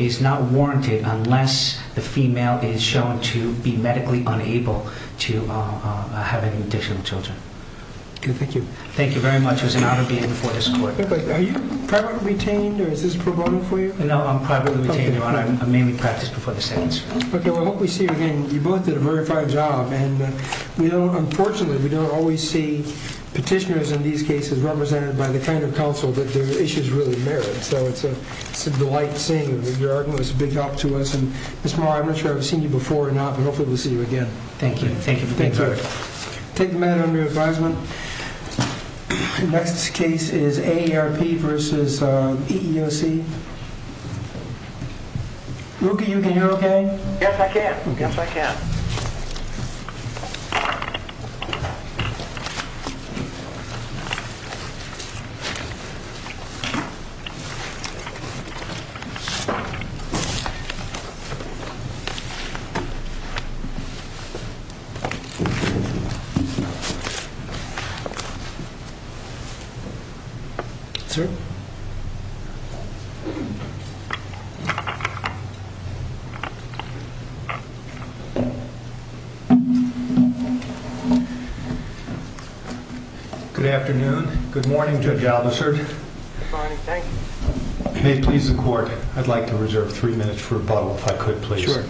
is not warranted unless the female is shown to be medically unable to have any additional children. Thank you. Thank you very much. It was an honor being before this court. Are you privately retained or is this pro bono for you? No, I'm privately retained, Your Honor. I mainly practice before the sentence. Okay. Well, I hope we see you again. You both did a very fine job. And unfortunately, we don't always see petitioners in these cases represented by the kind of counsel that their issues really merit. So, it's a delight seeing you. Your argument was a big help to us. Ms. Maher, I'm not sure I've seen you before or not, but hopefully we'll see you again. Thank you. Thank you for being here. Take a minute on your advisement. The next case is AARP v. EEOC. Ruki, you can hear okay? Yes, I can. Yes, I can. Thank you. Sir? Good afternoon. Good morning, Judge Albicert. Good afternoon. Good morning. Thank you. May it please the Court, I'd like to reserve three minutes for rebuttal, if I could, please. Sure.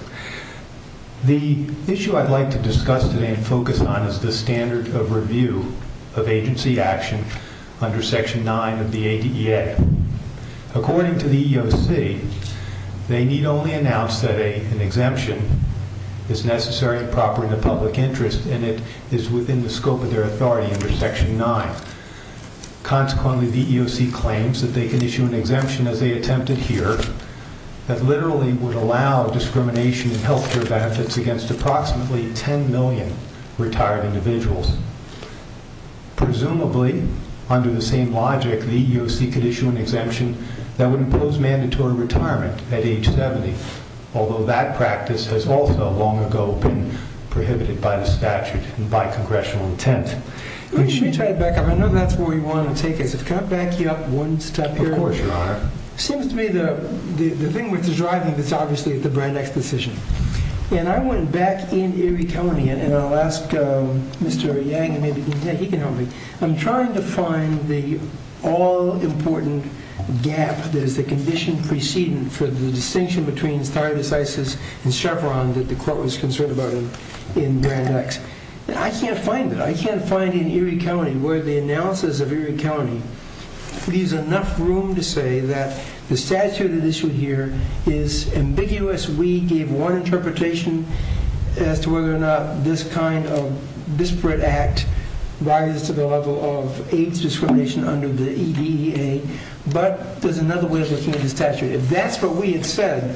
The issue I'd like to discuss today and focus on is the standard of review of agency action under Section 9 of the ADEA. According to the EEOC, they need only announce that an exemption is necessary and proper in the public interest and it is within the scope of their authority under Section 9. Consequently, the EEOC claims that they can issue an exemption, as they attempted here, that literally would allow discrimination in health care benefits against approximately 10 million retired individuals. Presumably, under the same logic, the EEOC could issue an exemption that would impose mandatory retirement at age 70, although that practice has also long ago been prohibited by the statute and by congressional intent. Why don't you try to back up? I know that's where you want to take it. Can I back you up one step here? Of course, Your Honor. It seems to me the thing with the driving is obviously the Brand X decision. And I went back in Erie County, and I'll ask Mr. Yang, maybe he can help me. I'm trying to find the all-important gap that is the condition preceding for the distinction between stardesizes and chevron that the Court was concerned about in Brand X. I can't find it. I can't find it in Erie County where the analysis of Erie County leaves enough room to say that the statute that is issued here is ambiguous. We gave one interpretation as to whether or not this kind of disparate act rises to the level of age discrimination under the EDEA. But there's another way of looking at the statute. If that's what we had said,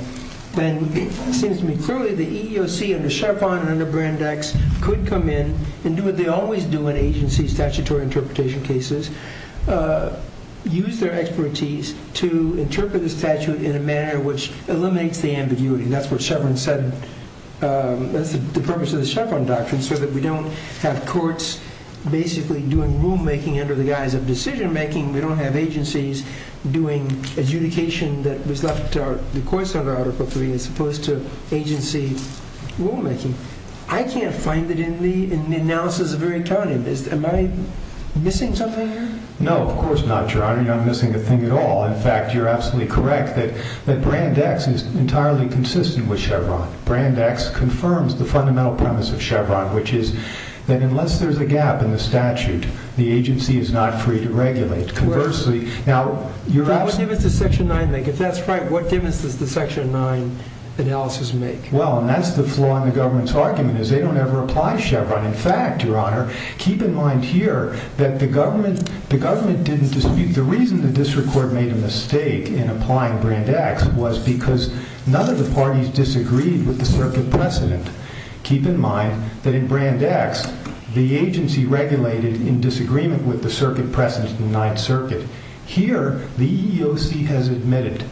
then it seems to me clearly the EEOC under Chevron and under Brand X could come in and do what they always do in agency statutory interpretation cases, use their expertise to interpret the statute in a manner which eliminates the ambiguity. That's what Chevron said. That's the purpose of the Chevron doctrine, so that we don't have courts basically doing rulemaking under the guise of decision-making. We don't have agencies doing adjudication that was left to the courts under Article III as opposed to agency rulemaking. I can't find it in the analysis of Erie County. Am I missing something here? No, of course not, Your Honor. You're not missing a thing at all. In fact, you're absolutely correct that Brand X is entirely consistent with Chevron. Brand X confirms the fundamental premise of Chevron, which is that unless there's a gap in the statute, the agency is not free to regulate. Correct. Now, you're absolutely— What difference does Section 9 make? If that's right, what difference does the Section 9 analysis make? Well, and that's the flaw in the government's argument, is they don't ever apply Chevron. In fact, Your Honor, keep in mind here that the government didn't dispute— Keep in mind that in Brand X, the agency regulated in disagreement with the circuit precedent in the Ninth Circuit. Here, the EEOC has admitted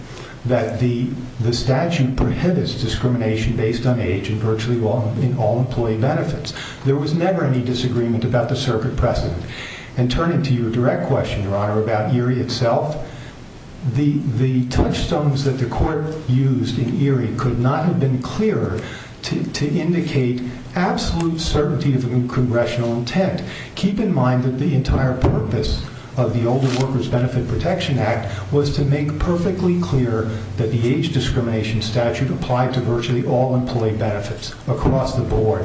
that the statute prohibits discrimination based on age and virtually all employee benefits. There was never any disagreement about the circuit precedent. And turning to your direct question, Your Honor, about Erie itself, the touchstones that the court used in Erie could not have been clearer to indicate absolute certainty of congressional intent. Keep in mind that the entire purpose of the Older Workers Benefit Protection Act was to make perfectly clear that the age discrimination statute applied to virtually all employee benefits across the board.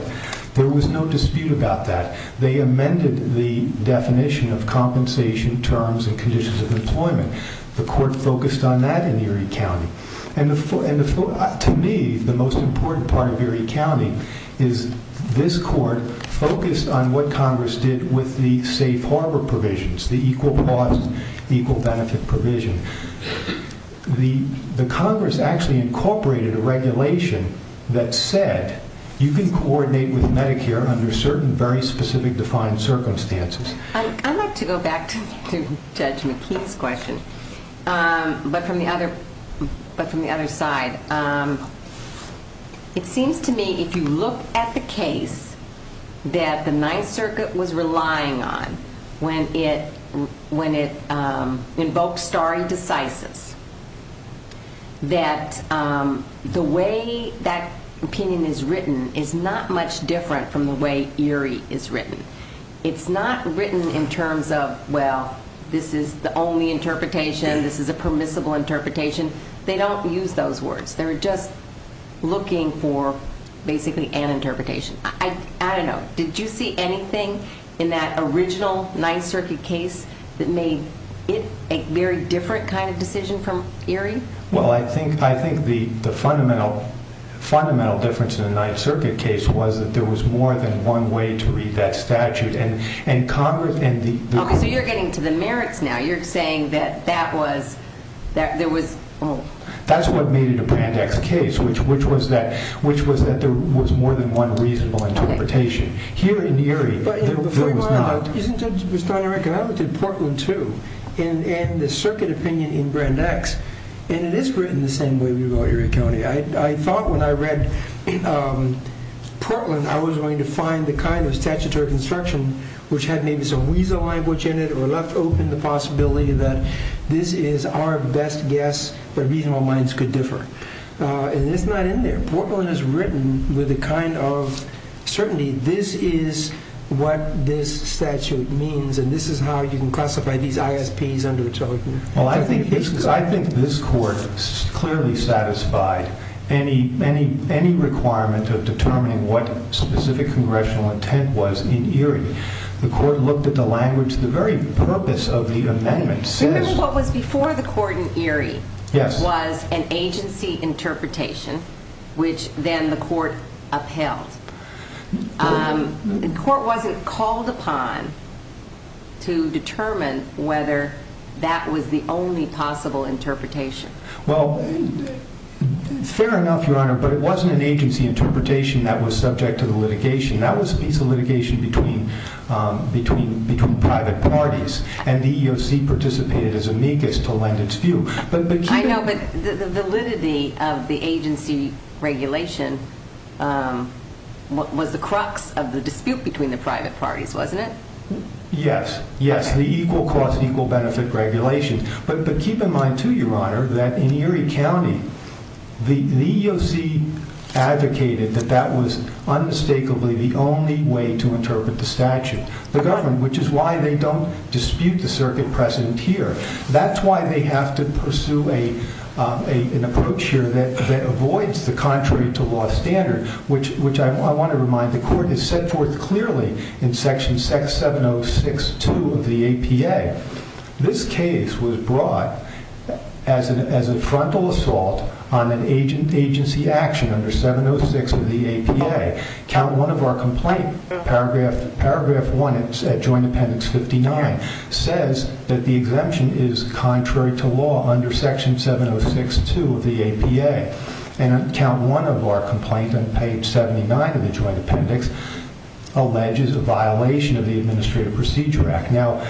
There was no dispute about that. They amended the definition of compensation terms and conditions of employment. The court focused on that in Erie County. And to me, the most important part of Erie County is this court focused on what Congress did with the safe harbor provisions, the equal cause, equal benefit provision. The Congress actually incorporated a regulation that said you can coordinate with Medicare under certain very specific defined circumstances. I'd like to go back to Judge McKee's question, but from the other side. It seems to me if you look at the case that the Ninth Circuit was relying on when it invoked stare decisis, that the way that opinion is written is not much different from the way Erie is written. It's not written in terms of, well, this is the only interpretation. This is a permissible interpretation. They don't use those words. They're just looking for basically an interpretation. I don't know. Did you see anything in that original Ninth Circuit case that made it a very different kind of decision from Erie? Well, I think the fundamental difference in the Ninth Circuit case was that there was more than one way to read that statute. Okay, so you're getting to the merits now. You're saying that there was... That's what made it a Brand X case, which was that there was more than one reasonable interpretation. Here in Erie, there was not. Before you go on, isn't it, Mr. O'Regan, I looked at Portland, too, and the circuit opinion in Brand X, and it is written the same way we wrote Erie County. I thought when I read Portland, I was going to find the kind of statutory construction which had maybe some weasel language in it or left open the possibility that this is our best guess that reasonable minds could differ. And it's not in there. Portland is written with a kind of certainty. This is what this statute means, and this is how you can classify these ISPs under a token. Well, I think this court clearly satisfied any requirement of determining what specific congressional intent was in Erie. The court looked at the language. The very purpose of the amendment says... Remember what was before the court in Erie was an agency interpretation, which then the court upheld. The court wasn't called upon to determine whether that was the only possible interpretation. Well, fair enough, Your Honor, but it wasn't an agency interpretation that was subject to the litigation. That was a piece of litigation between private parties, and the EEOC participated as amicus to lend its view. I know, but the validity of the agency regulation was the crux of the dispute between the private parties, wasn't it? Yes, yes, the equal cost, equal benefit regulation. But keep in mind, too, Your Honor, that in Erie County, the EEOC advocated that that was unmistakably the only way to interpret the statute. The government, which is why they don't dispute the circuit present here. That's why they have to pursue an approach here that avoids the contrary-to-law standard, which I want to remind the court is set forth clearly in Section 706.2 of the APA. This case was brought as a frontal assault on an agency action under 706 of the APA. Count 1 of our complaint, paragraph 1 at Joint Appendix 59, says that the exemption is contrary-to-law under Section 706.2 of the APA. And Count 1 of our complaint on page 79 of the Joint Appendix alleges a violation of the Administrative Procedure Act. Now,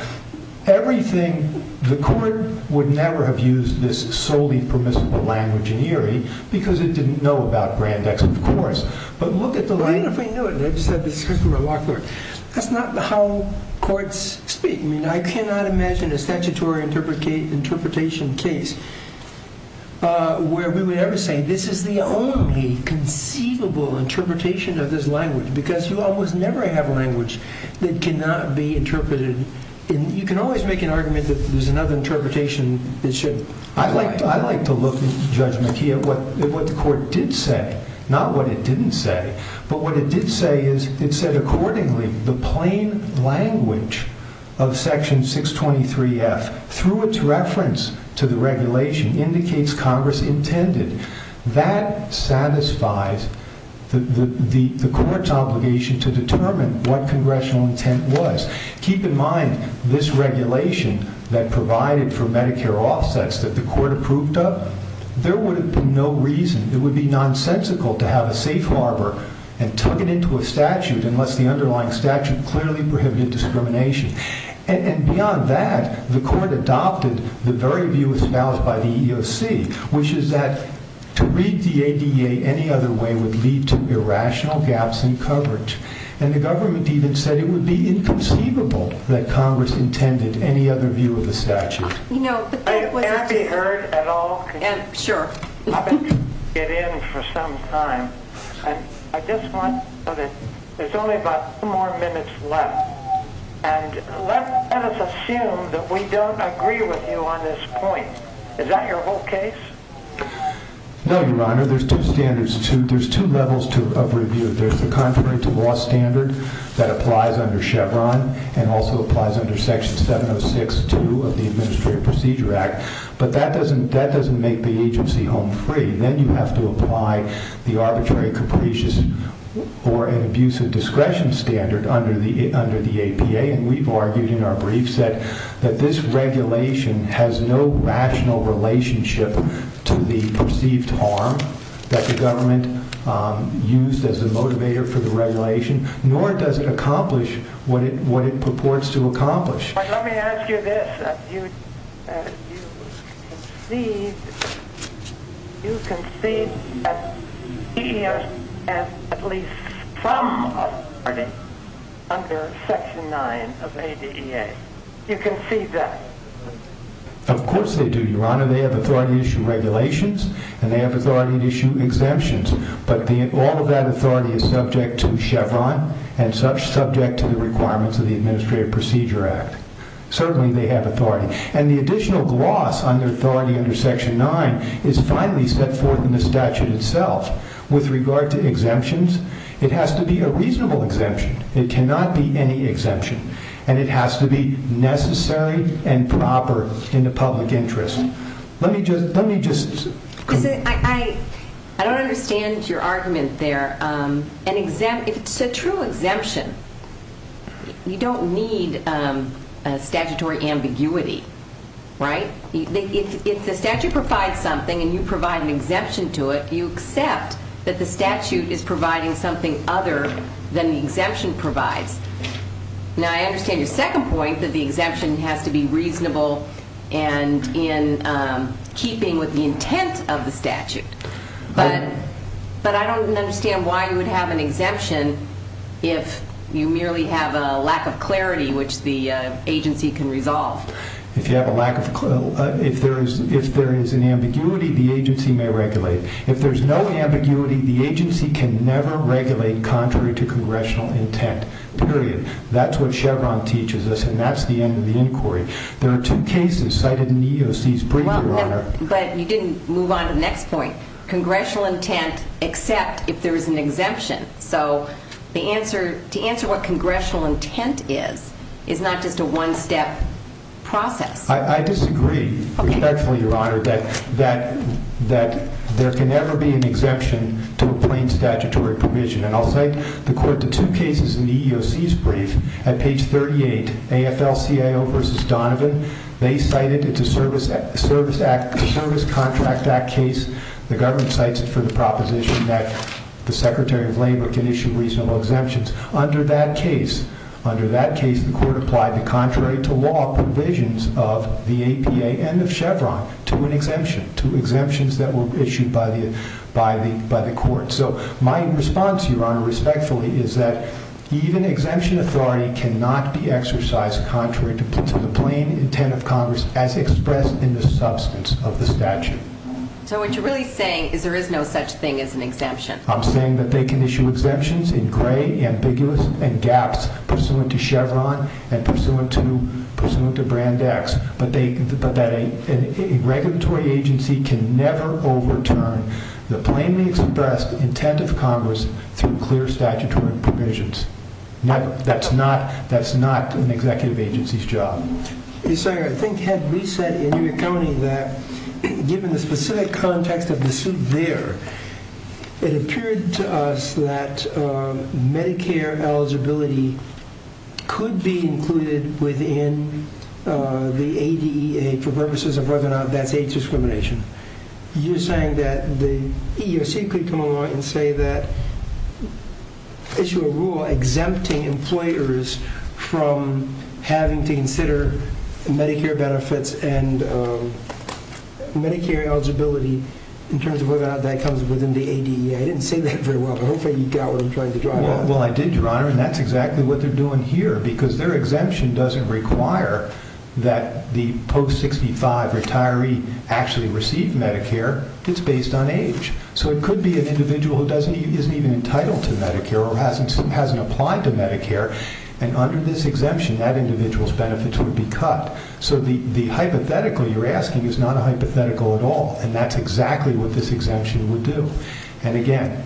everything, the court would never have used this solely permissible language in Erie because it didn't know about Brandeis, of course. But look at the line. I don't know if I knew it, and I've said this before. That's not how courts speak. I mean, I cannot imagine a statutory interpretation case where we would ever say this is the only conceivable interpretation of this language because you almost never have language that cannot be interpreted. You can always make an argument that there's another interpretation that should apply. I'd like to look, Judge McKee, at what the court did say, not what it didn't say. But what it did say is it said accordingly the plain language of Section 623F through its reference to the regulation indicates Congress intended. That satisfies the court's obligation to determine what congressional intent was. Keep in mind this regulation that provided for Medicare offsets that the court approved of, there would have been no reason, it would be nonsensical to have a safe harbor and tuck it into a statute unless the underlying statute clearly prohibited discrimination. And beyond that, the court adopted the very view espoused by the EEOC, which is that to read the ADA any other way would lead to irrational gaps in coverage. And the government even said it would be inconceivable that Congress intended any other view of the statute. It can't be heard at all? Sure. I've been trying to get in for some time. I just want to put it, there's only about two more minutes left. And let us assume that we don't agree with you on this point. Is that your whole case? No, Your Honor. There's two levels of review. There's the contrary to law standard that applies under Chevron and also applies under Section 706-2 of the Administrative Procedure Act. But that doesn't make the agency home free. Then you have to apply the arbitrary, capricious, or an abusive discretion standard under the APA. We've argued in our briefs that this regulation has no rational relationship to the perceived harm that the government used as a motivator for the regulation, nor does it accomplish what it purports to accomplish. But let me ask you this. You concede that the DEA has at least some authority under Section 9 of ADEA. You concede that? Of course they do, Your Honor. They have authority to issue regulations, and they have authority to issue exemptions. But all of that authority is subject to Chevron and subject to the requirements of the Administrative Procedure Act. Certainly they have authority. And the additional gloss on their authority under Section 9 is finally set forth in the statute itself. With regard to exemptions, it has to be a reasonable exemption. It cannot be any exemption. And it has to be necessary and proper in the public interest. I don't understand your argument there. If it's a true exemption, you don't need statutory ambiguity, right? If the statute provides something and you provide an exemption to it, you accept that the statute is providing something other than the exemption provides. Now, I understand your second point that the exemption has to be reasonable and in keeping with the intent of the statute. But I don't understand why you would have an exemption if you merely have a lack of clarity, which the agency can resolve. If you have a lack of clarity, if there is an ambiguity, the agency may regulate. If there is no ambiguity, the agency can never regulate contrary to congressional intent, period. That's what Chevron teaches us, and that's the end of the inquiry. There are two cases cited in the EOC's brief, Your Honor. But you didn't move on to the next point. Congressional intent, except if there is an exemption. So to answer what congressional intent is, is not just a one-step process. I disagree respectfully, Your Honor, that there can never be an exemption to a plain statutory provision. And I'll cite the court to two cases in the EOC's brief. At page 38, AFL-CIO v. Donovan, they cited it's a Service Contract Act case. The government cites it for the proposition that the Secretary of Labor can issue reasonable exemptions. Under that case, the court applied the contrary-to-law provisions of the APA and of Chevron to an exemption, to exemptions that were issued by the court. So my response, Your Honor, respectfully, is that even exemption authority cannot be exercised contrary to the plain intent of Congress as expressed in the substance of the statute. So what you're really saying is there is no such thing as an exemption. I'm saying that they can issue exemptions in gray, ambiguous, and gaps pursuant to Chevron and pursuant to Brand X, but that a regulatory agency can never overturn the plainly expressed intent of Congress through clear statutory provisions. Never. That's not an executive agency's job. Your Honor, I think we said in your accounting that, given the specific context of the suit there, it appeared to us that Medicare eligibility could be included within the ADEA for purposes of whether or not that's age discrimination. You're saying that the EEOC could come along and say that issue a rule exempting employers from having to consider Medicare benefits and Medicare eligibility in terms of whether or not that comes within the ADEA. I didn't say that very well, but hopefully you got what I'm trying to draw out. Well, I did, Your Honor, and that's exactly what they're doing here, because their exemption doesn't require that the post-65 retiree actually receive Medicare. It's based on age, so it could be an individual who isn't even entitled to Medicare or hasn't applied to Medicare, and under this exemption, that individual's benefits would be cut. So the hypothetical you're asking is not a hypothetical at all, and that's exactly what this exemption would do. And again,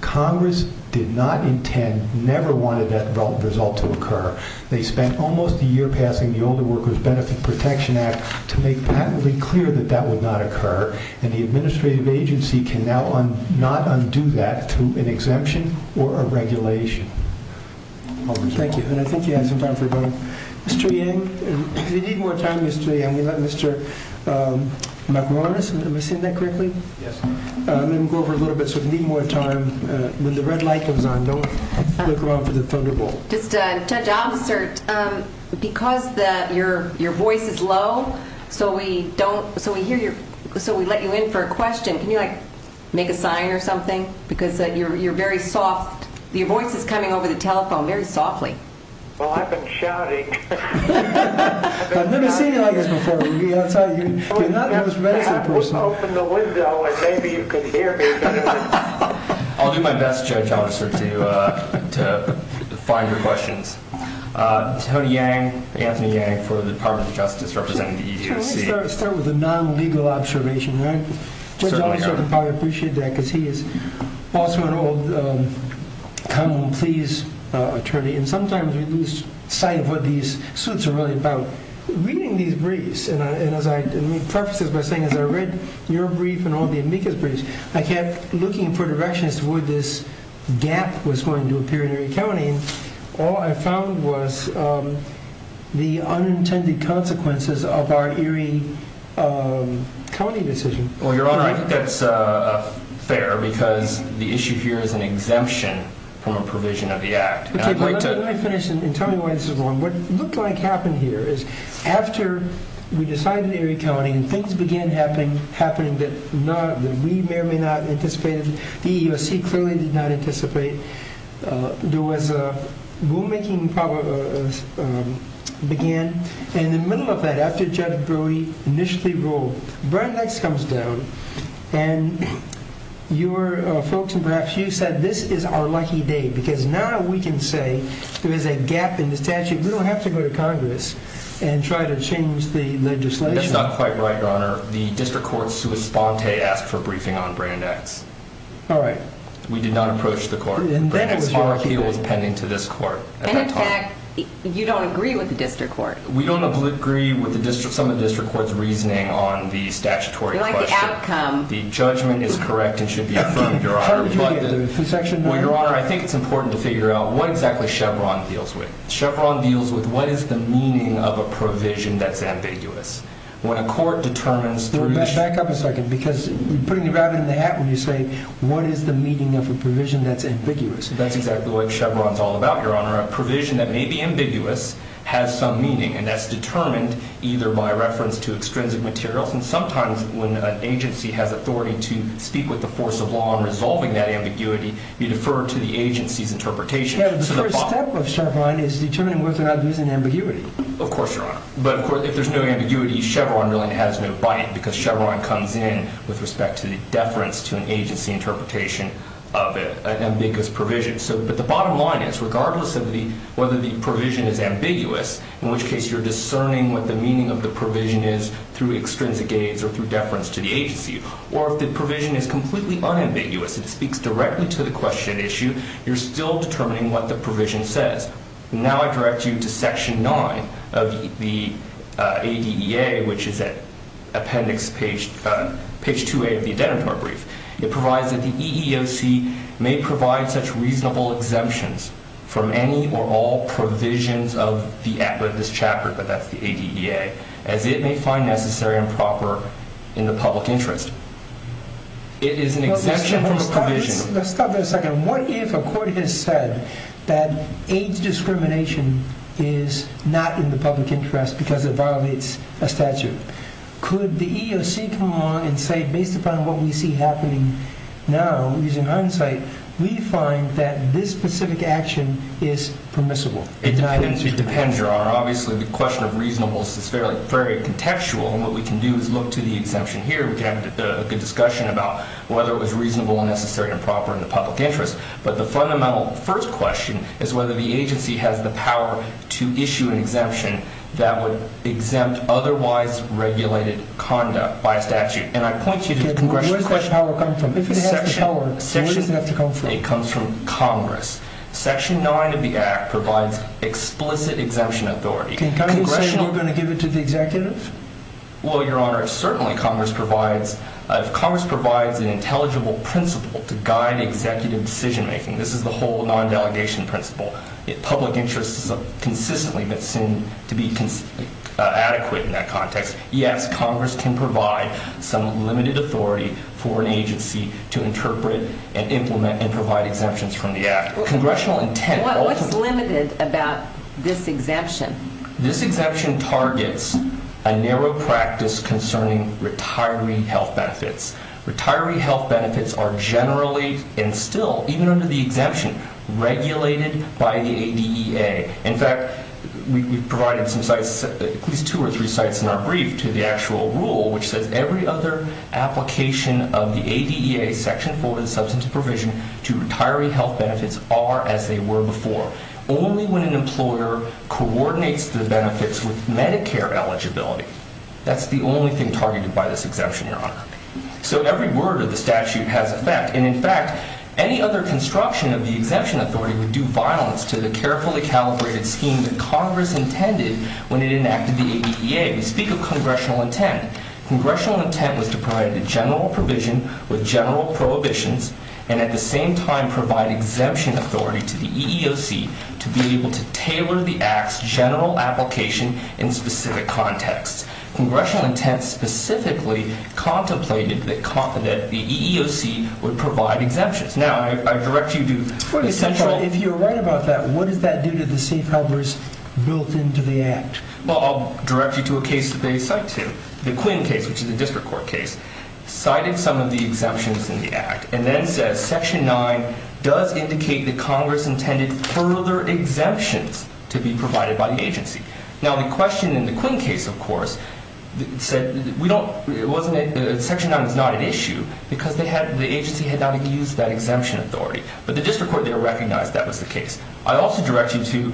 Congress did not intend, never wanted that result to occur. They spent almost a year passing the Older Workers Benefit Protection Act to make patently clear that that would not occur, and the administrative agency can now not undo that through an exemption or a regulation. Thank you, and I think you have some time for a vote. Mr. Yang, if you need more time, Mr. Yang, we let Mr. Macaronis, am I saying that correctly? Yes. I'm going to go over a little bit, so if you need more time, when the red light comes on, don't look around for the thunderbolt. Just, Judge Obstert, because your voice is low, so we let you in for a question. Can you, like, make a sign or something? Because you're very soft. Your voice is coming over the telephone very softly. Well, I've been shouting. I've never seen you like this before. You're not the most responsive person. Open the window and maybe you can hear me. I'll do my best, Judge Obstert, to find your questions. Tony Yang, Anthony Yang, for the Department of Justice, representing the EEOC. Let's start with a non-legal observation, right? Judge Obstert, I appreciate that, because he is an awesome and old common-pleas attorney, and sometimes we lose sight of what these suits are really about. Reading these briefs, and let me preface this by saying, as I read your brief and all the amicus briefs, I kept looking for directions to where this gap was going to appear in Erie County, and all I found was the unintended consequences of our Erie County decision. Well, Your Honor, I think that's fair, because the issue here is an exemption from a provision of the Act. Let me finish and tell you why this is wrong. What looked like happened here is, after we decided in Erie County, and things began happening that we may or may not have anticipated, the EEOC clearly did not anticipate, there was a rulemaking problem began, and in the middle of that, after Judge Brewer initially ruled, Brian Dykes comes down, and your folks, and perhaps you, said, this is our lucky day, because now we can say there is a gap in the statute. We don't have to go to Congress and try to change the legislation. That's not quite right, Your Honor. The District Court, sua sponte, asked for a briefing on Brian Dykes. All right. We did not approach the Court. Brian Dykes' RIP was pending to this Court. And in fact, you don't agree with the District Court. We don't agree with some of the District Court's reasoning on the statutory question. You like the outcome. The judgment is correct and should be affirmed, Your Honor. Well, Your Honor, I think it's important to figure out what exactly Chevron deals with. Chevron deals with what is the meaning of a provision that's ambiguous. When a court determines through the… Back up a second, because you're putting the rabbit in the hat when you say what is the meaning of a provision that's ambiguous. That's exactly what Chevron's all about, Your Honor. A provision that may be ambiguous has some meaning, and that's determined either by reference to extrinsic materials, and sometimes when an agency has authority to speak with the force of law on resolving that ambiguity, you defer to the agency's interpretation. The first step of Chevron is determining whether or not there's an ambiguity. Of course, Your Honor. But if there's no ambiguity, Chevron really has no bite, because Chevron comes in with respect to the deference to an agency interpretation of an ambiguous provision. But the bottom line is, regardless of whether the provision is ambiguous, in which case you're discerning what the meaning of the provision is through extrinsic aids or through deference to the agency, or if the provision is completely unambiguous, it speaks directly to the question at issue, you're still determining what the provision says. Now I direct you to Section 9 of the ADEA, which is at appendix page 2A of the identitor brief. It provides that the EEOC may provide such reasonable exemptions from any or all provisions of this chapter, but that's the ADEA, as it may find necessary and proper in the public interest. It is an exemption from the provision. Let's stop there a second. What if a court has said that aids discrimination is not in the public interest because it violates a statute? Could the EEOC come along and say, based upon what we see happening now, using hindsight, we find that this specific action is permissible? It depends, Your Honor. Obviously, the question of reasonableness is fairly contextual, and what we can do is look to the exemption here. We can have a good discussion about whether it was reasonable and necessary and proper in the public interest, but the fundamental first question is whether the agency has the power to issue an exemption that would exempt otherwise regulated conduct by a statute. And I point you to the Congressional section. Where does the power come from? If it has the power, where does it have to come from? It comes from Congress. Section 9 of the Act provides explicit exemption authority. Can you say you're going to give it to the executive? Well, Your Honor, if Congress provides an intelligible principle to guide executive decision-making, this is the whole non-delegation principle, public interest has consistently been seen to be adequate in that context, yes, Congress can provide some limited authority for an agency to interpret and implement and provide exemptions from the Act. What's limited about this exemption? This exemption targets a narrow practice concerning retiree health benefits. Retiree health benefits are generally and still, even under the exemption, regulated by the ADEA. In fact, we've provided some sites, at least two or three sites in our brief to the actual rule, which says every other application of the ADEA Section 4 of the Substantive Provision to retiree health benefits are as they were before. Only when an employer coordinates the benefits with Medicare eligibility. That's the only thing targeted by this exemption, Your Honor. So every word of the statute has effect. And in fact, any other construction of the exemption authority would do violence to the carefully calibrated scheme that Congress intended when it enacted the ADEA. We speak of congressional intent. Congressional intent was to provide a general provision with general prohibitions and at the same time provide exemption authority to the EEOC to be able to tailor the Act's general application in specific contexts. Congressional intent specifically contemplated that confident the EEOC would provide exemptions. Now, I direct you to the central... If you're right about that, what does that do to the safe harbors built into the Act? Well, I'll direct you to a case that they cite to. The Quinn case, which is a district court case, cited some of the exemptions in the Act and then says Section 9 does indicate that Congress intended further exemptions to be provided by the agency. Now, the question in the Quinn case, of course, said Section 9 is not an issue because the agency had not used that exemption authority. But the district court there recognized that was the case. I also direct you to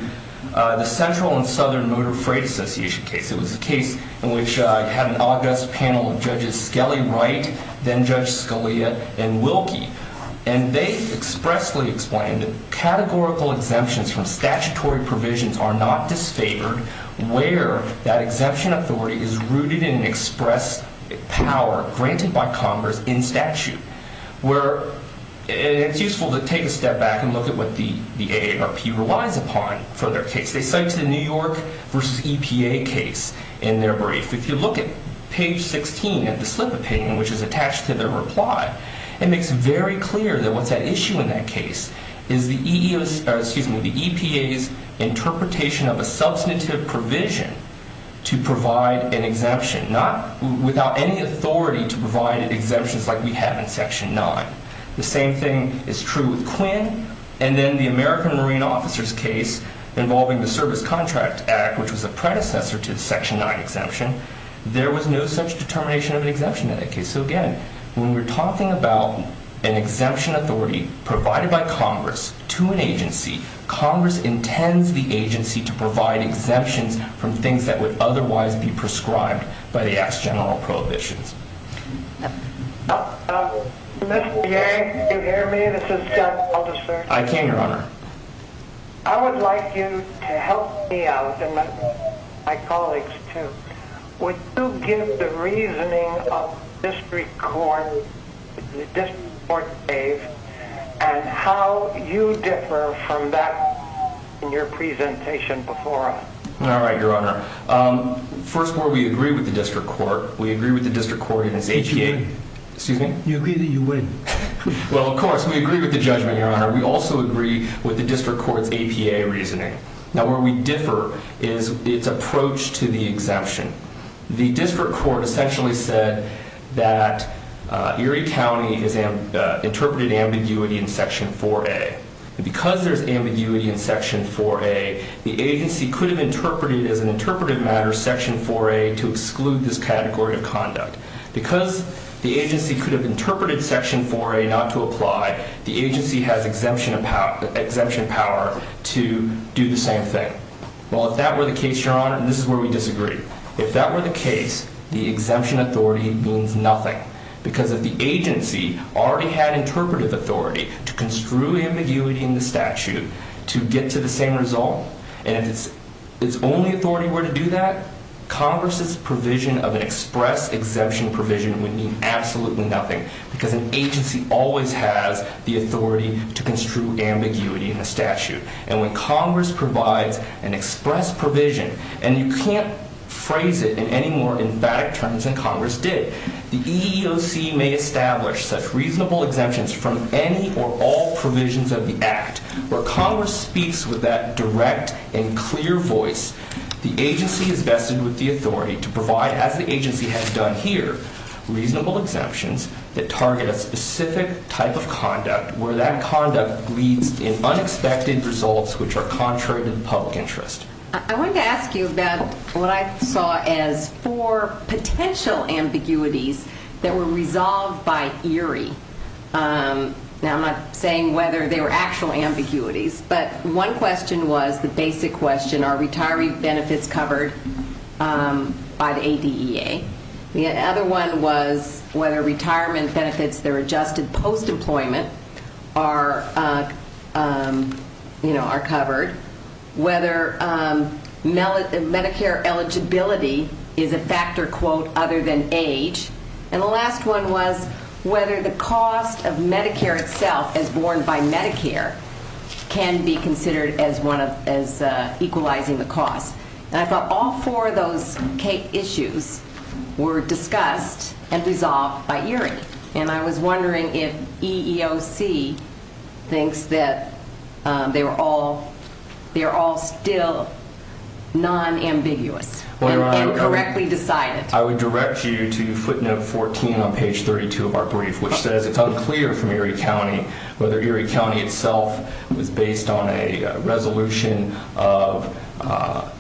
the Central and Southern Motor Freight Association case. It was a case in which it had an august panel of Judges Skelly Wright, then Judge Scalia, and Wilkie. And they expressly explained that categorical exemptions from statutory provisions are not disfavored where that exemption authority is rooted in an express power granted by Congress in statute. It's useful to take a step back and look at what the AARP relies upon for their case. They cite the New York v. EPA case in their brief. If you look at page 16 of the slip of paper, which is attached to their reply, it makes very clear that what's at issue in that case is the EPA's interpretation of a substantive provision to provide an exemption without any authority to provide exemptions like we have in Section 9. The same thing is true with Quinn and then the American Marine Officers case involving the Service Contract Act, which was a predecessor to the Section 9 exemption. There was no such determination of an exemption in that case. So again, when we're talking about an exemption authority provided by Congress to an agency, Congress intends the agency to provide exemptions from things that would otherwise be prescribed by the ex general prohibitions. Mr. Jay, can you hear me? This is John Alderson. I can, Your Honor. I would like you to help me out and my colleagues too. Would you give the reasoning of the District Court case and how you differ from that in your presentation before us? All right, Your Honor. First of all, we agree with the District Court. We agree with the District Court and its APA. Excuse me? You agree that you would. Well, of course. We agree with the judgment, Your Honor. We also agree with the District Court's APA reasoning. Now, where we differ is its approach to the exemption. The District Court essentially said that Erie County interpreted ambiguity in Section 4A. Because there's ambiguity in Section 4A, the agency could have interpreted as an interpretive matter Section 4A to exclude this category of conduct. Because the agency could have interpreted Section 4A not to apply, the agency has exemption power to do the same thing. Well, if that were the case, Your Honor, this is where we disagree. If that were the case, the exemption authority means nothing. Because if the agency already had interpretive authority to construe ambiguity in the statute to get to the same result, and if its only authority were to do that, Congress's provision of an express exemption provision would mean absolutely nothing. Because an agency always has the authority to construe ambiguity in the statute. And when Congress provides an express provision, and you can't phrase it in any more emphatic terms than Congress did, the EEOC may establish such reasonable exemptions from any or all provisions of the Act. Where Congress speaks with that direct and clear voice, the agency is vested with the authority to provide, as the agency has done here, reasonable exemptions that target a specific type of conduct, where that conduct leads in unexpected results which are contrary to the public interest. I wanted to ask you about what I saw as four potential ambiguities that were resolved by ERIE. Now, I'm not saying whether they were actual ambiguities, but one question was the basic question, are retiree benefits covered by the ADEA? The other one was whether retirement benefits that are adjusted post-employment are, you know, are covered. Whether Medicare eligibility is a factor, quote, other than age. And the last one was whether the cost of Medicare itself as borne by Medicare can be considered as equalizing the cost. And I thought all four of those issues were discussed and resolved by ERIE. And I was wondering if EEOC thinks that they're all still non-ambiguous and correctly decided. I would direct you to footnote 14 on page 32 of our brief, which says it's unclear from ERIE County whether ERIE County itself was based on a resolution of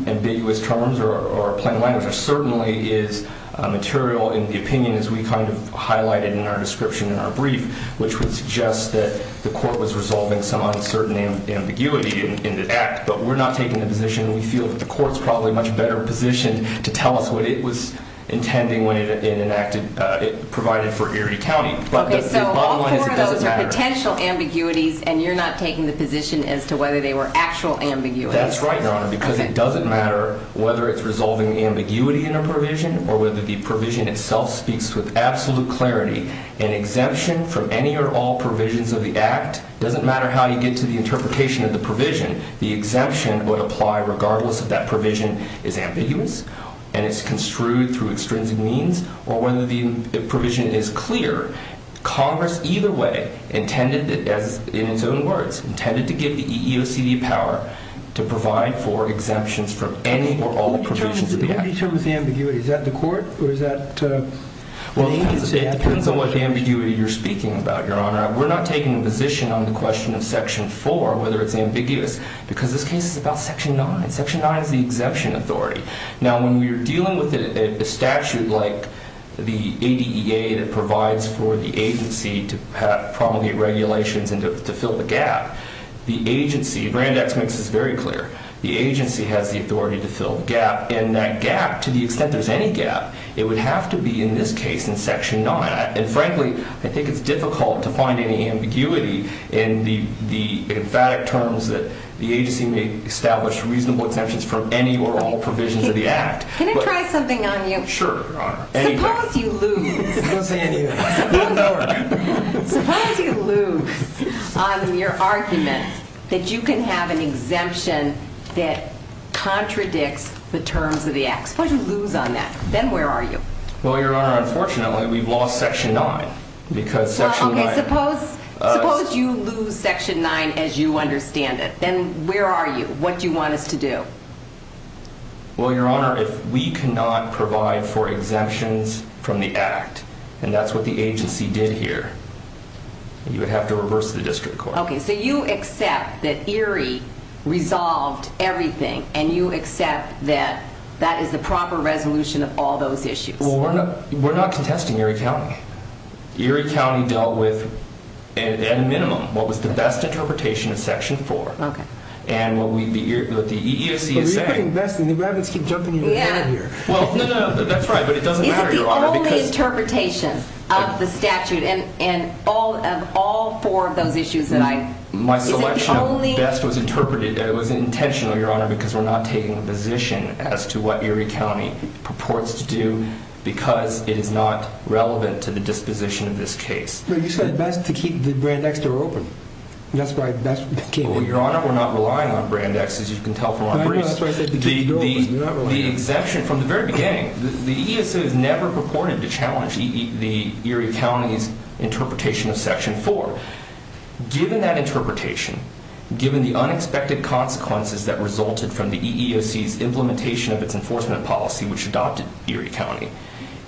ambiguous terms or plan language. And there certainly is material in the opinion as we kind of highlighted in our description in our brief, which would suggest that the court was resolving some uncertain ambiguity in the act. But we're not taking the position. We feel that the court's probably much better positioned to tell us what it was intending when it provided for ERIE County. But the bottom line is it doesn't matter. Okay, so all four of those are potential ambiguities, and you're not taking the position as to whether they were actual ambiguities. But that's right, Your Honor, because it doesn't matter whether it's resolving ambiguity in a provision or whether the provision itself speaks with absolute clarity. An exemption from any or all provisions of the act doesn't matter how you get to the interpretation of the provision. The exemption would apply regardless if that provision is ambiguous and it's construed through extrinsic means or whether the provision is clear. Congress either way intended, in its own words, intended to give the EEOC the power to provide for exemptions from any or all provisions of the act. What do you mean terms of ambiguity? Is that the court or is that the agency? Well, it depends on what ambiguity you're speaking about, Your Honor. We're not taking a position on the question of Section 4, whether it's ambiguous, because this case is about Section 9. Section 9 is the exemption authority. Now, when we're dealing with a statute like the ADEA that provides for the agency to promulgate regulations and to fill the gap, the agency, Brandeis makes this very clear, the agency has the authority to fill the gap. And that gap, to the extent there's any gap, it would have to be in this case in Section 9. And frankly, I think it's difficult to find any ambiguity in the emphatic terms that the agency may establish reasonable exemptions from any or all provisions of the act. Can I try something on you? Sure, Your Honor. Suppose you lose on your argument that you can have an exemption that contradicts the terms of the act. Suppose you lose on that. Then where are you? Well, Your Honor, unfortunately, we've lost Section 9 because Section 9 Suppose you lose Section 9 as you understand it. Then where are you? What do you want us to do? Well, Your Honor, if we cannot provide for exemptions from the act, and that's what the agency did here, you would have to reverse the district court. Okay, so you accept that Erie resolved everything, and you accept that that is the proper resolution of all those issues. Well, we're not contesting Erie County. Erie County dealt with, at a minimum, what was the best interpretation of Section 4. Okay. And what the EEOC is saying But you're putting best, and the rabbits keep jumping in your head here. Well, no, no, that's right. But it doesn't matter, Your Honor, because Is it the only interpretation of the statute and of all four of those issues that I My selection of best was interpreted, it was intentional, Your Honor, because we're not taking a position as to what Erie County purports to do, because it is not relevant to the disposition of this case. But you said best to keep the Brand X door open. That's why best became Well, Your Honor, we're not relying on Brand X, as you can tell from our briefs. But I know that's why I said to keep it open. The exemption from the very beginning, the EEOC has never purported to challenge the Erie County's interpretation of Section 4. Given that interpretation, given the unexpected consequences that resulted from the EEOC's implementation of its enforcement policy, which adopted Erie County,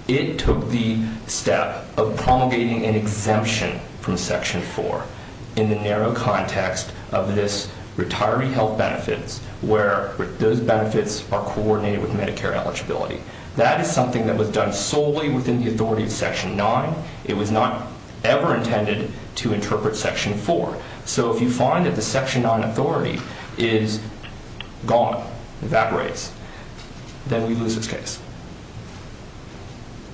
it took the step of promulgating an exemption from Section 4 in the narrow context of this retiree health benefits, where those benefits are coordinated with Medicare eligibility. That is something that was done solely within the authority of Section 9. It was not ever intended to interpret Section 4. So if you find that the Section 9 authority is gone, evaporates, then we lose this case.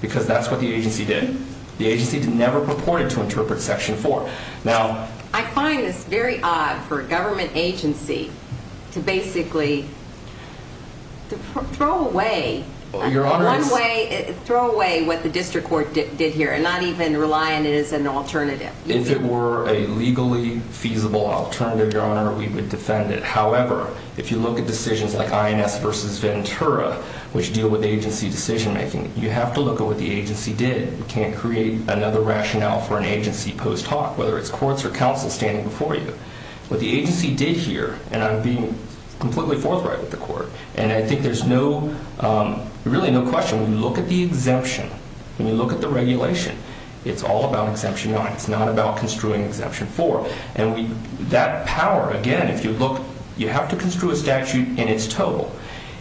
Because that's what the agency did. The agency never purported to interpret Section 4. I find this very odd for a government agency to basically throw away what the district court did here and not even rely on it as an alternative. If it were a legally feasible alternative, Your Honor, we would defend it. However, if you look at decisions like INS v. Ventura, which deal with agency decision making, you have to look at what the agency did. You can't create another rationale for an agency post hoc, whether it's courts or counsel standing before you. What the agency did here, and I'm being completely forthright with the court, and I think there's really no question, when you look at the exemption, when you look at the regulation, it's all about Exemption 9. It's not about construing Exemption 4. That power, again, if you look, you have to construe a statute in its total.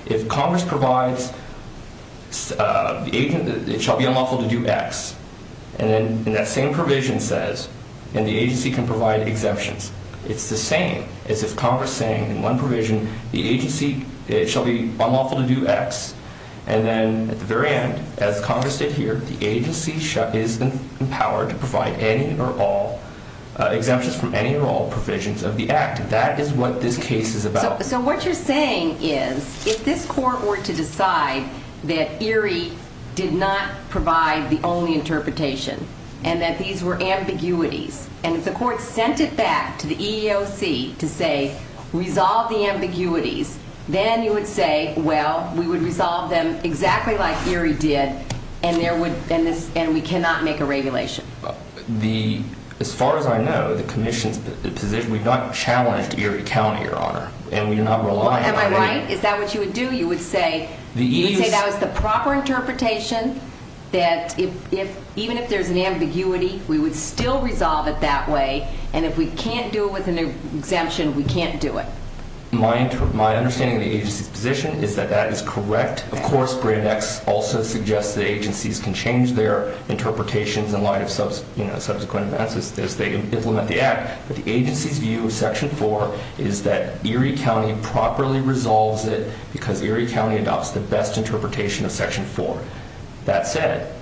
If Congress provides, it shall be unlawful to do X, and that same provision says, and the agency can provide exemptions. It's the same as if Congress is saying in one provision the agency shall be unlawful to do X, and then at the very end, as Congress did here, the agency is empowered to provide any or all exemptions from any or all provisions of the Act. That is what this case is about. So what you're saying is if this court were to decide that Erie did not provide the only interpretation and that these were ambiguities, and if the court sent it back to the EEOC to say resolve the ambiguities, then you would say, well, we would resolve them exactly like Erie did, and we cannot make a regulation. As far as I know, the Commission's position, we've not challenged Erie County, Your Honor, and we're not relying on Erie. Am I right? Is that what you would do? You would say that was the proper interpretation, that even if there's an ambiguity, we would still resolve it that way, and if we can't do it with an exemption, we can't do it. My understanding of the agency's position is that that is correct. Of course, Grand X also suggests that agencies can change their interpretations in light of subsequent events as they implement the Act. But the agency's view of Section 4 is that Erie County properly resolves it because Erie County adopts the best interpretation of Section 4. That said,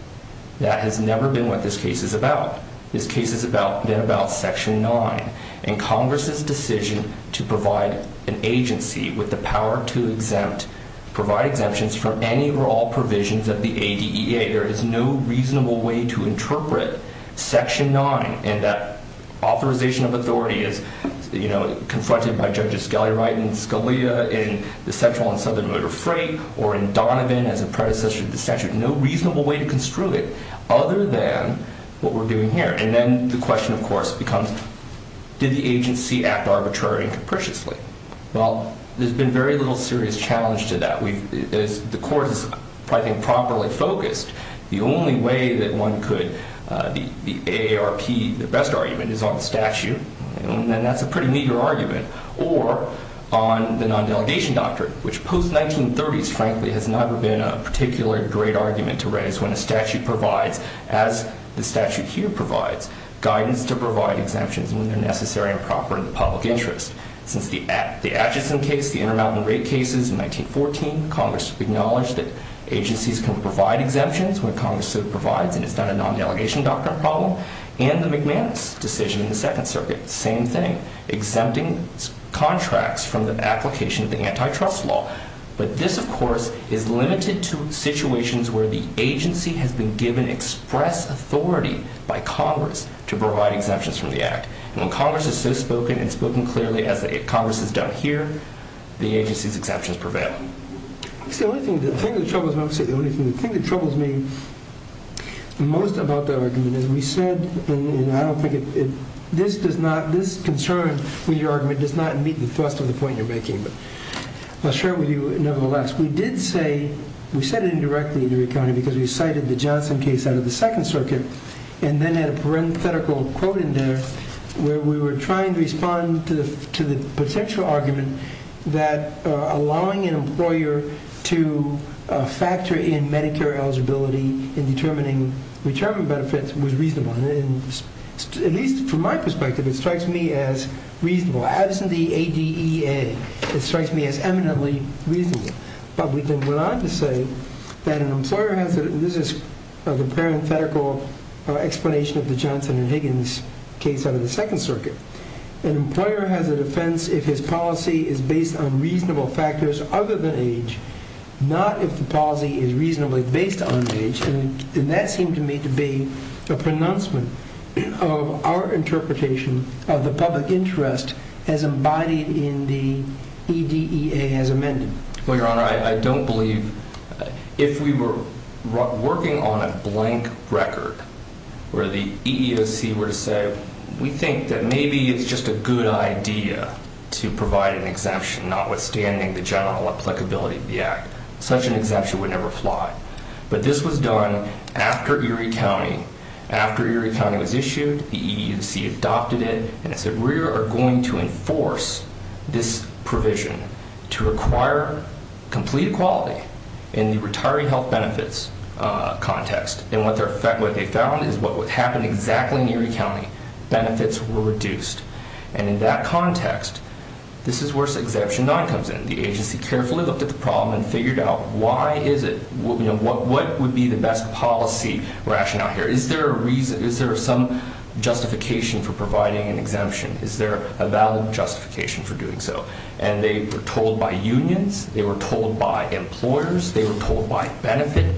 that has never been what this case is about. This case is then about Section 9, and Congress's decision to provide an agency with the power to exempt, provide exemptions for any or all provisions of the ADEA. There is no reasonable way to interpret Section 9, and that authorization of authority is, you know, confronted by Judge Escalier in Scalia, in the Central and Southern Motor Freight, or in Donovan as a predecessor to the statute. No reasonable way to construe it other than what we're doing here. And then the question, of course, becomes, did the agency act arbitrarily and capriciously? Well, there's been very little serious challenge to that. The Court is, I think, properly focused. The only way that one could, the AARP, the best argument is on the statute, and that's a pretty meager argument, or on the non-delegation doctrine, which post-1930s, frankly, has never been a particularly great argument to raise when a statute provides, as the statute here provides, guidance to provide exemptions when they're necessary and proper in the public interest. Since the Atchison case, the Intermountain Raid cases in 1914, Congress acknowledged that agencies can provide exemptions when Congress so provides, and it's not a non-delegation doctrine problem. And the McManus decision in the Second Circuit, same thing, exempting contracts from the application of the antitrust law. But this, of course, is limited to situations where the agency has been given express authority by Congress to provide exemptions from the Act. And when Congress has so spoken, and spoken clearly, as Congress has done here, the agency's exceptions prevail. See, the only thing, the thing that troubles me most about the argument is we said, and I don't think it, this does not, this concern with your argument does not meet the thrust of the point you're making. But I'll share it with you nevertheless. We did say, we said it indirectly in the recounting, because we cited the Johnson case out of the Second Circuit, and then had a parenthetical quote in there where we were trying to respond to the potential argument that allowing an employer to factor in Medicare eligibility in determining retirement benefits was reasonable. And at least from my perspective, it strikes me as reasonable. Absent the ADEA, it strikes me as eminently reasonable. But we then went on to say that an employer has, this is the parenthetical explanation of the Johnson and Higgins case out of the Second Circuit. An employer has a defense if his policy is based on reasonable factors other than age, not if the policy is reasonably based on age. And that seemed to me to be a pronouncement of our interpretation of the public interest as embodied in the EDEA as amended. Well, Your Honor, I don't believe, if we were working on a blank record where the EEOC were to say, we think that maybe it's just a good idea to provide an exemption notwithstanding the general applicability of the act. Such an exemption would never fly. But this was done after Erie County, after Erie County was issued, the EEOC adopted it, and it said we are going to enforce this provision to require complete equality in the retiree health benefits context. And what they found is what would happen exactly in Erie County, benefits were reduced. And in that context, this is where Exemption 9 comes in. The agency carefully looked at the problem and figured out why is it, what would be the best policy rationale here? Is there a reason, is there some justification for providing an exemption? Is there a valid justification for doing so? And they were told by unions. They were told by employers. They were told by benefit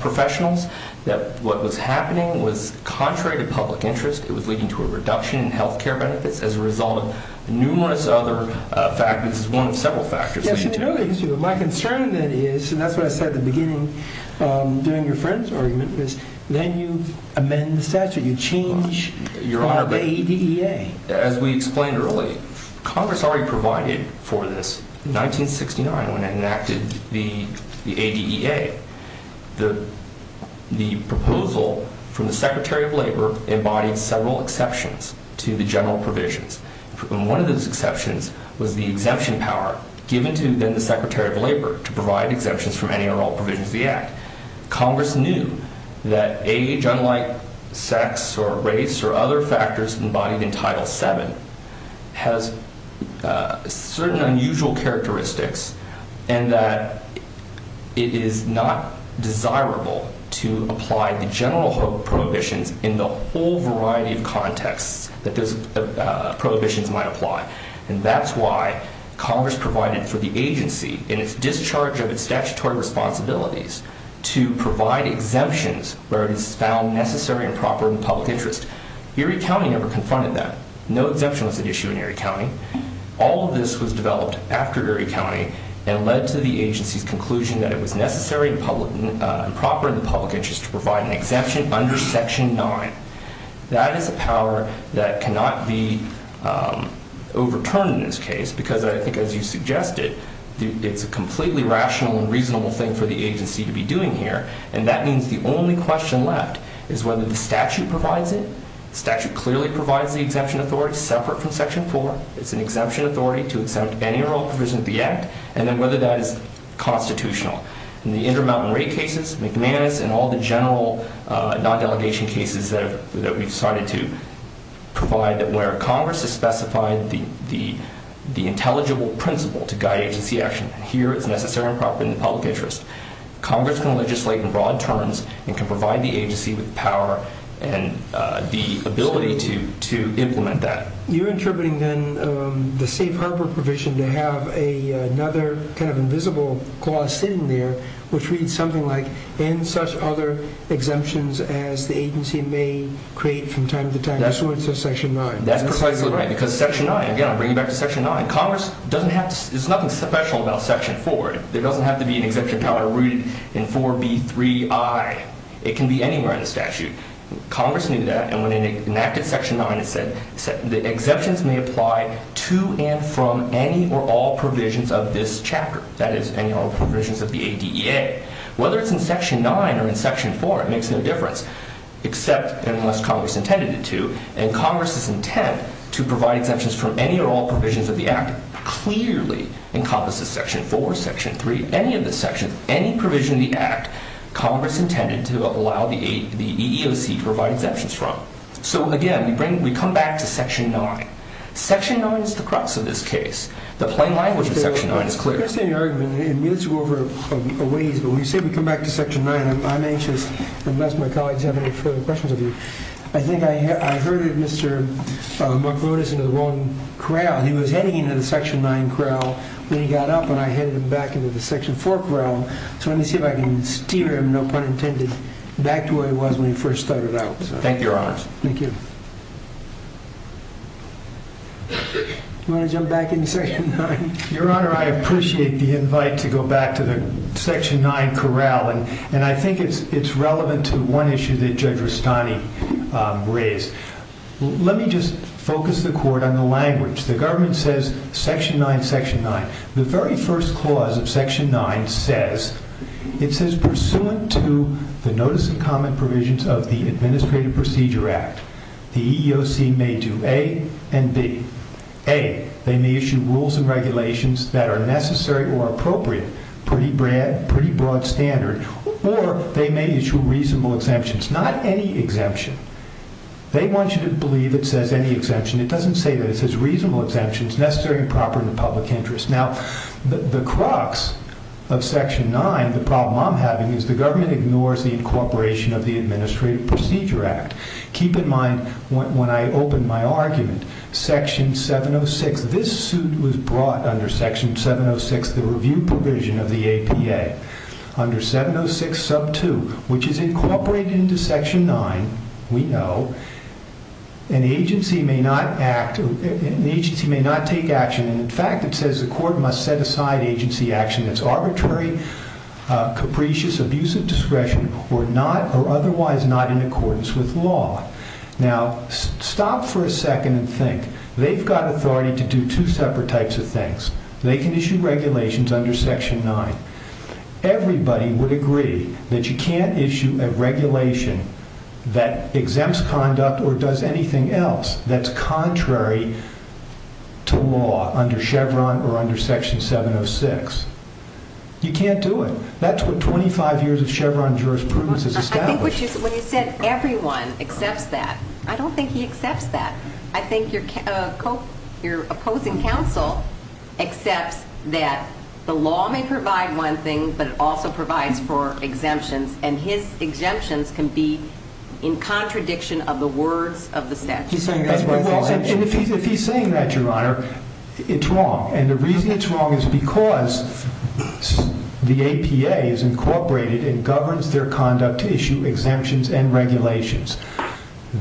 professionals that what was happening was contrary to public interest. It was leading to a reduction in health care benefits as a result of numerous other factors, one of several factors. My concern then is, and that's what I said at the beginning during your friend's argument, is then you amend the statute, you change from ADEA. As we explained earlier, Congress already provided for this in 1969 when it enacted the ADEA. The proposal from the Secretary of Labor embodied several exceptions to the general provisions. One of those exceptions was the exemption power given to then the Secretary of Labor to provide exemptions from any or all provisions of the Act. Congress knew that age, unlike sex or race or other factors embodied in Title VII, has certain unusual characteristics and that it is not desirable to apply the general prohibitions in the whole variety of contexts that those prohibitions might apply. And that's why Congress provided for the agency in its discharge of its statutory responsibilities to provide exemptions where it is found necessary and proper in the public interest. Erie County never confronted that. No exemption was at issue in Erie County. All of this was developed after Erie County and led to the agency's conclusion that it was necessary and proper in the public interest to provide an exemption under Section IX. That is a power that cannot be overturned in this case because I think, as you suggested, it's a completely rational and reasonable thing for the agency to be doing here, and that means the only question left is whether the statute provides it. The statute clearly provides the exemption authority separate from Section IV. It's an exemption authority to exempt any or all provisions of the Act, and then whether that is constitutional. In the Intermountain Rate cases, McManus, and all the general non-delegation cases that we've started to provide, where Congress has specified the intelligible principle to guide agency action, here it's necessary and proper in the public interest. Congress can legislate in broad terms and can provide the agency with power and the ability to implement that. You're interpreting then the safe harbor provision to have another kind of invisible clause sitting there which reads something like, and such other exemptions as the agency may create from time to time. That's what it says in Section IX. That's precisely right because Section IX, again I'll bring you back to Section IX, Congress doesn't have to, there's nothing special about Section IV. There doesn't have to be an exemption power rooted in 4B3I. It can be anywhere in the statute. Congress knew that, and when enacted Section IX, it said the exemptions may apply to and from any or all provisions of this chapter. That is, any or all provisions of the ADEA. Whether it's in Section IX or in Section IV, it makes no difference, except unless Congress intended it to. And Congress's intent to provide exemptions from any or all provisions of the Act clearly encompasses Section IV, Section III, any of the sections, any provision of the Act Congress intended to allow the EEOC to provide exemptions from. So again, we come back to Section IX. Section IX is the crux of this case. The plain language of Section IX is clear. I understand your argument. I mean, let's go over a ways, but when you say we come back to Section IX, I'm anxious, unless my colleagues have any further questions of you. I think I herded Mr. Marconis into the wrong corral. He was heading into the Section IX corral when he got up, and I headed him back into the Section IV corral. So let me see if I can steer him, no pun intended, back to where he was when he first started out. Thank you, Your Honors. Thank you. Do you want to jump back into Section IX? Your Honor, I appreciate the invite to go back to the Section IX corral, and I think it's relevant to one issue that Judge Rustani raised. Let me just focus the court on the language. The government says Section IX, Section IX. The very first clause of Section IX says, it says pursuant to the notice and comment provisions of the Administrative Procedure Act, the EEOC may do A and B. A, they may issue rules and regulations that are necessary or appropriate, pretty broad standard, or they may issue reasonable exemptions. Not any exemption. They want you to believe it says any exemption. It doesn't say that. Now, the crux of Section IX, the problem I'm having, is the government ignores the incorporation of the Administrative Procedure Act. Keep in mind, when I opened my argument, Section 706, this suit was brought under Section 706, the review provision of the APA. Under 706 sub 2, which is incorporated into Section IX, we know, an agency may not take action. In fact, it says the court must set aside agency action that's arbitrary, capricious, abuse of discretion, or otherwise not in accordance with law. Now, stop for a second and think. They've got authority to do two separate types of things. They can issue regulations under Section IX. Everybody would agree that you can't issue a regulation that exempts conduct or does anything else that's contrary to law under Chevron or under Section 706. You can't do it. That's what 25 years of Chevron jurisprudence has established. When you said everyone accepts that, I don't think he accepts that. I think your opposing counsel accepts that the law may provide one thing, but it also provides for exemptions, and his exemptions can be in contradiction of the words of the statute. If he's saying that, Your Honor, it's wrong, and the reason it's wrong is because the APA is incorporated and governs their conduct to issue exemptions and regulations.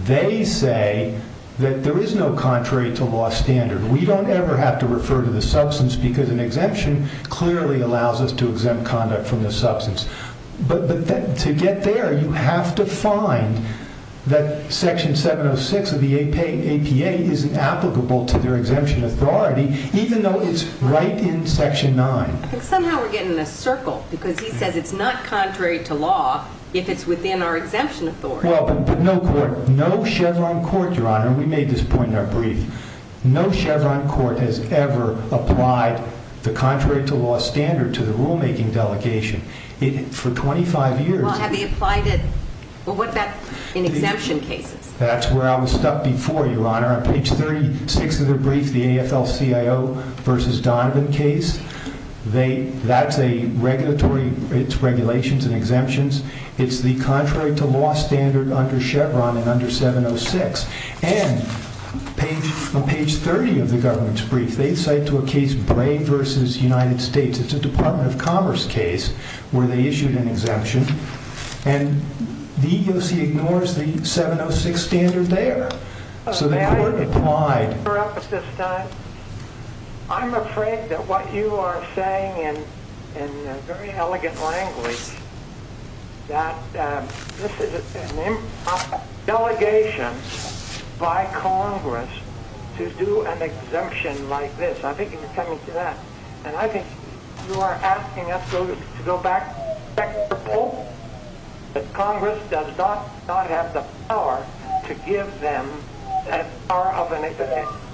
They say that there is no contrary to law standard. We don't ever have to refer to the substance because an exemption clearly allows us to exempt conduct from the substance. But to get there, you have to find that Section 706 of the APA isn't applicable to their exemption authority, even though it's right in Section IX. Somehow we're getting in a circle because he says it's not contrary to law if it's within our exemption authority. Well, but no Chevron court, Your Honor, and we made this point in our brief, no Chevron court has ever applied the contrary to law standard to the rulemaking delegation. For 25 years... Well, have they applied it? Well, what about in exemption cases? That's where I was stuck before, Your Honor. On page 36 of the brief, the AFL-CIO v. Donovan case, that's a regulatory, it's regulations and exemptions. It's the contrary to law standard under Chevron and under 706. And on page 30 of the government's brief, they cite to a case Bray v. United States. It's a Department of Commerce case where they issued an exemption, and the EEOC ignores the 706 standard there. So they weren't applied. I'm afraid that what you are saying in very elegant language, that this is a delegation by Congress to do an exemption like this. I think you're coming to that. And I think you are asking us to go back and check the polls, that Congress does not have the power to give them the power of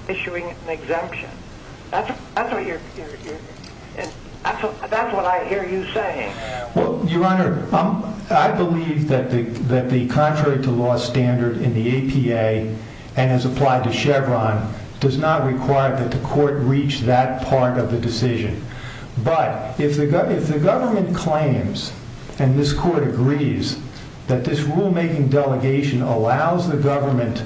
issuing an exemption. That's what I hear you saying. Well, Your Honor, I believe that the contrary to law standard in the APA and as applied to Chevron, does not require that the court reach that part of the decision. But if the government claims, and this court agrees, that this rulemaking delegation allows the government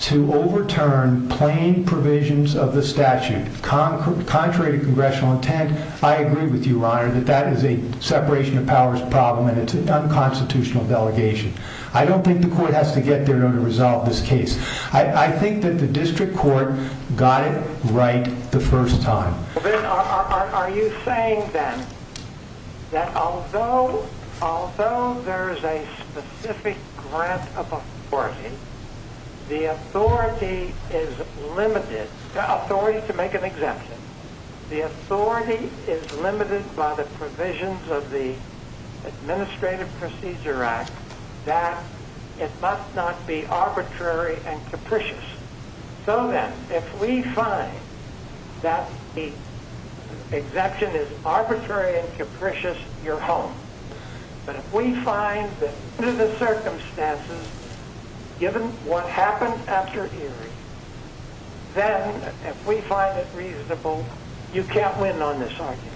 to overturn plain provisions of the statute, contrary to congressional intent, I agree with you, Your Honor, that that is a separation of powers problem, and it's an unconstitutional delegation. I don't think the court has to get there to resolve this case. I think that the district court got it right the first time. Are you saying, then, that although there is a specific grant of authority, the authority is limited, the authority to make an exemption, the authority is limited by the provisions of the Administrative Procedure Act that it must not be arbitrary and capricious. So then, if we find that the exemption is arbitrary and capricious, you're home. But if we find that under the circumstances, given what happened after Erie, then, if we find it reasonable, you can't win on this argument.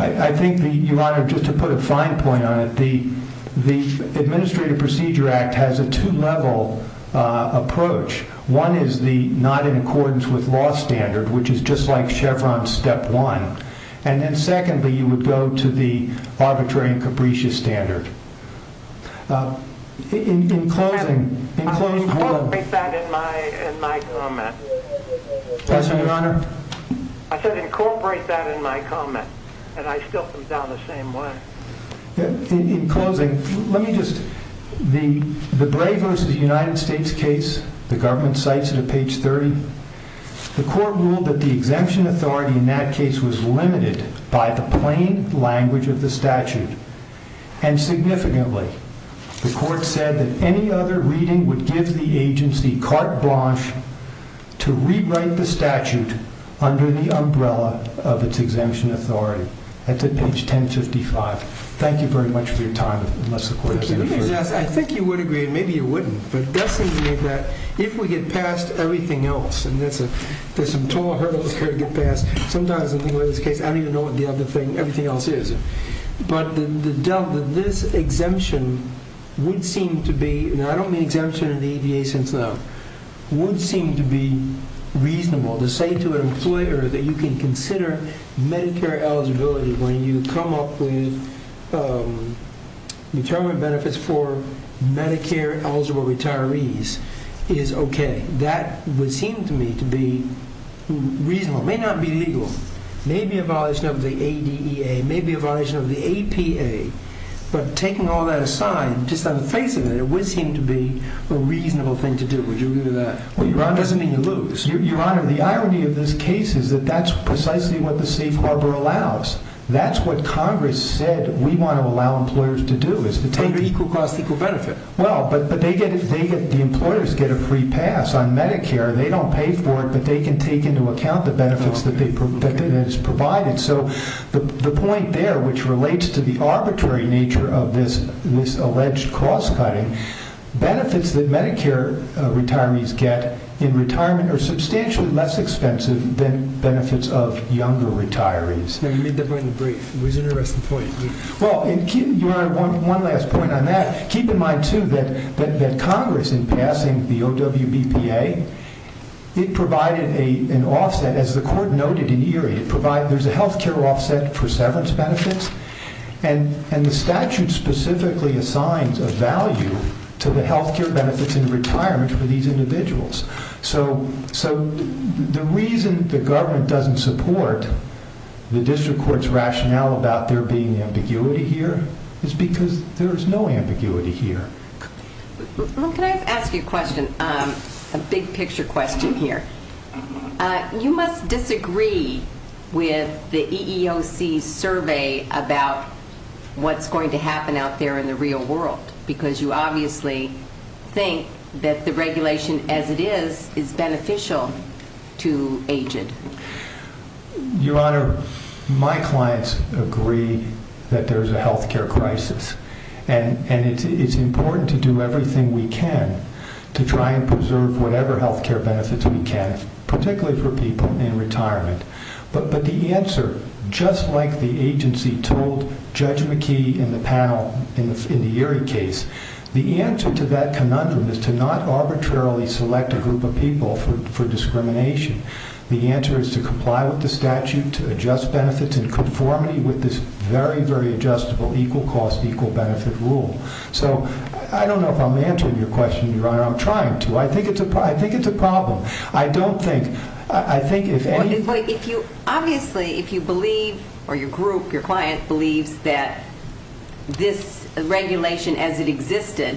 I think, Your Honor, just to put a fine point on it, the Administrative Procedure Act has a two-level approach. One is the not in accordance with law standard, which is just like Chevron's step one. And then, secondly, you would go to the arbitrary and capricious standard. In closing, I said incorporate that in my comment. Yes, Your Honor. I said incorporate that in my comment. And I still think that was the same one. In closing, let me just, the Bray v. United States case, the government cites it at page 30, the court ruled that the exemption authority in that case was limited by the plain language of the statute. And, significantly, the court said that any other reading would give the agency carte blanche to rewrite the statute under the umbrella of its exemption authority. That's at page 1055. Thank you very much for your time. I think you would agree, and maybe you wouldn't, that if we get past everything else, and there's some total hurdles here to get past. Sometimes, in this case, I don't even know what everything else is. But this exemption would seem to be, and I don't mean exemption in the ADA since then, would seem to be reasonable. To say to an employer that you can consider Medicare eligibility when you come up with retirement benefits for Medicare eligible retirees is okay. That would seem to me to be reasonable. It may not be legal. It may be a violation of the ADEA. It may be a violation of the APA. But taking all that aside, just on the face of it, it would seem to be a reasonable thing to do. Would you agree to that? It doesn't mean you lose. Your Honor, the irony of this case is that that's precisely what the safe harbor allows. That's what Congress said we want to allow employers to do. Equal cost, equal benefit. Well, but the employers get a free pass on Medicare. They don't pay for it, but they can take into account the benefits that it has provided. So the point there, which relates to the arbitrary nature of this alleged cost cutting, benefits that Medicare retirees get in retirement are substantially less expensive than benefits of younger retirees. No, you made that point in the brief. It was an interesting point. Well, Your Honor, one last point on that. Keep in mind, too, that Congress, in passing the OWBPA, it provided an offset. As the Court noted in Erie, there's a health care offset for severance benefits, and the statute specifically assigns a value to the health care benefits in retirement for these individuals. So the reason the government doesn't support the district court's rationale about there being ambiguity here is because there is no ambiguity here. Well, can I ask you a question, a big-picture question here? You must disagree with the EEOC survey about what's going to happen out there in the real world, because you obviously think that the regulation as it is is beneficial to aging. Your Honor, my clients agree that there's a health care crisis, and it's important to do everything we can to try and preserve whatever health care benefits we can, particularly for people in retirement. But the answer, just like the agency told Judge McKee in the panel, in the Erie case, the answer to that conundrum is to not arbitrarily select a group of people for discrimination. The answer is to comply with the statute, to adjust benefits in conformity with this very, very adjustable equal-cost, equal-benefit rule. So I don't know if I'm answering your question, Your Honor. I'm trying to. I think it's a problem. I don't think... I think if any... Obviously, if you believe, or your group, your client, believes that this regulation as it existed,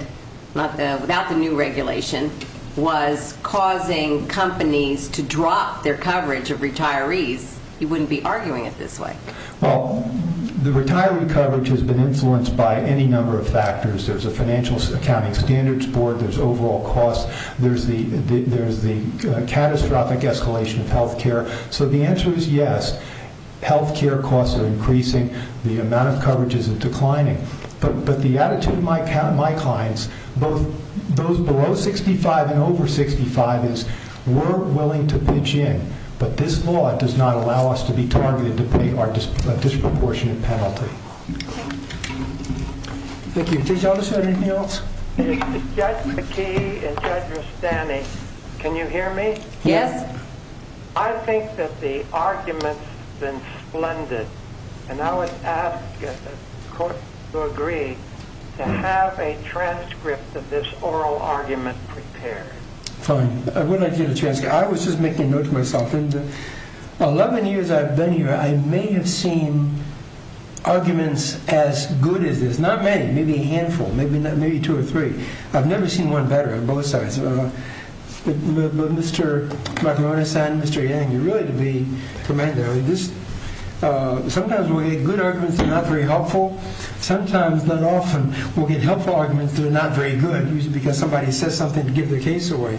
without the new regulation, was causing companies to drop their coverage of retirees, you wouldn't be arguing it this way. Well, the retiree coverage has been influenced by any number of factors. There's a financial accounting standards board. There's overall costs. There's the catastrophic escalation of health care. So the answer is yes. Health care costs are increasing. The amount of coverage is declining. But the attitude of my clients, both those below 65 and over 65, is we're willing to pitch in, but this law does not allow us to be targeted to pay a disproportionate penalty. Thank you. Did you all decide anything else? Judge McKee and Judge Rustani, can you hear me? Yes. I think that the argument's been splendid. And I would ask the court to agree to have a transcript of this oral argument prepared. Fine. I would like to get a transcript. I was just making a note to myself. In the 11 years I've been here, I may have seen arguments as good as this. Not many. Maybe a handful. Maybe two or three. I've never seen one better on both sides. Mr. Macaronis and Mr. Yang, you're really to be commended. Sometimes we'll get good arguments that are not very helpful. Sometimes, not often, we'll get helpful arguments that are not very good, usually because somebody says something to give the case away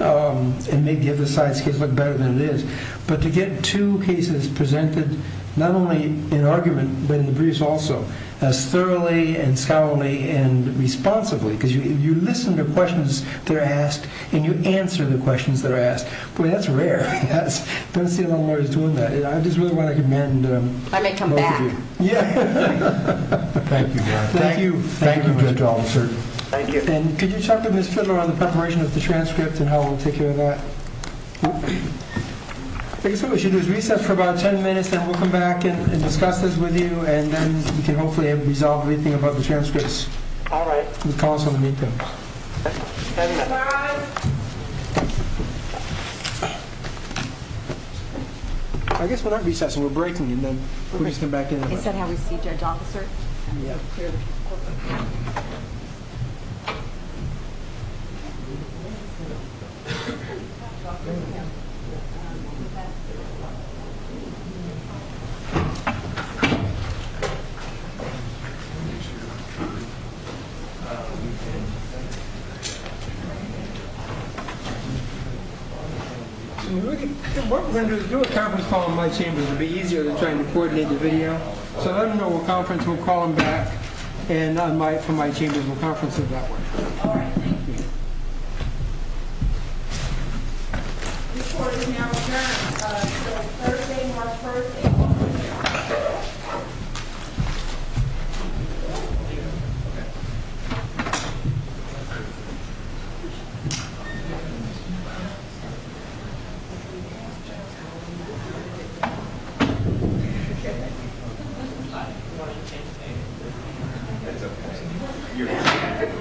and make the other side's case look better than it is. But to get two cases presented, not only in argument but in the briefs also, as thoroughly and scholarly and responsibly, because you listen to questions that are asked and you answer the questions that are asked. Boy, that's rare. I don't see a lot of lawyers doing that. I just really want to commend both of you. I may come back. Yeah. Thank you, John. Thank you. Thank you, Judge Officer. Thank you. And could you talk to Ms. Fidler on the preparation of the transcript and how we'll take care of that? I guess what we should do is reset for about 10 minutes and then we'll come back and discuss this with you and then we can hopefully resolve anything about the transcripts. All right. You can call us when you need to. Thank you. I guess we're not recessing. We're breaking and then we'll just come back in. Is that how we see, Judge Officer? Yeah. What we're going to do is do a conference call in my chamber. It'll be easier to try and coordinate the video. So let them know we'll conference. We'll call them back. And from my chamber, we'll conference it that way. All right. Thank you. This court is now adjourned until Thursday, March 1st. Thank you.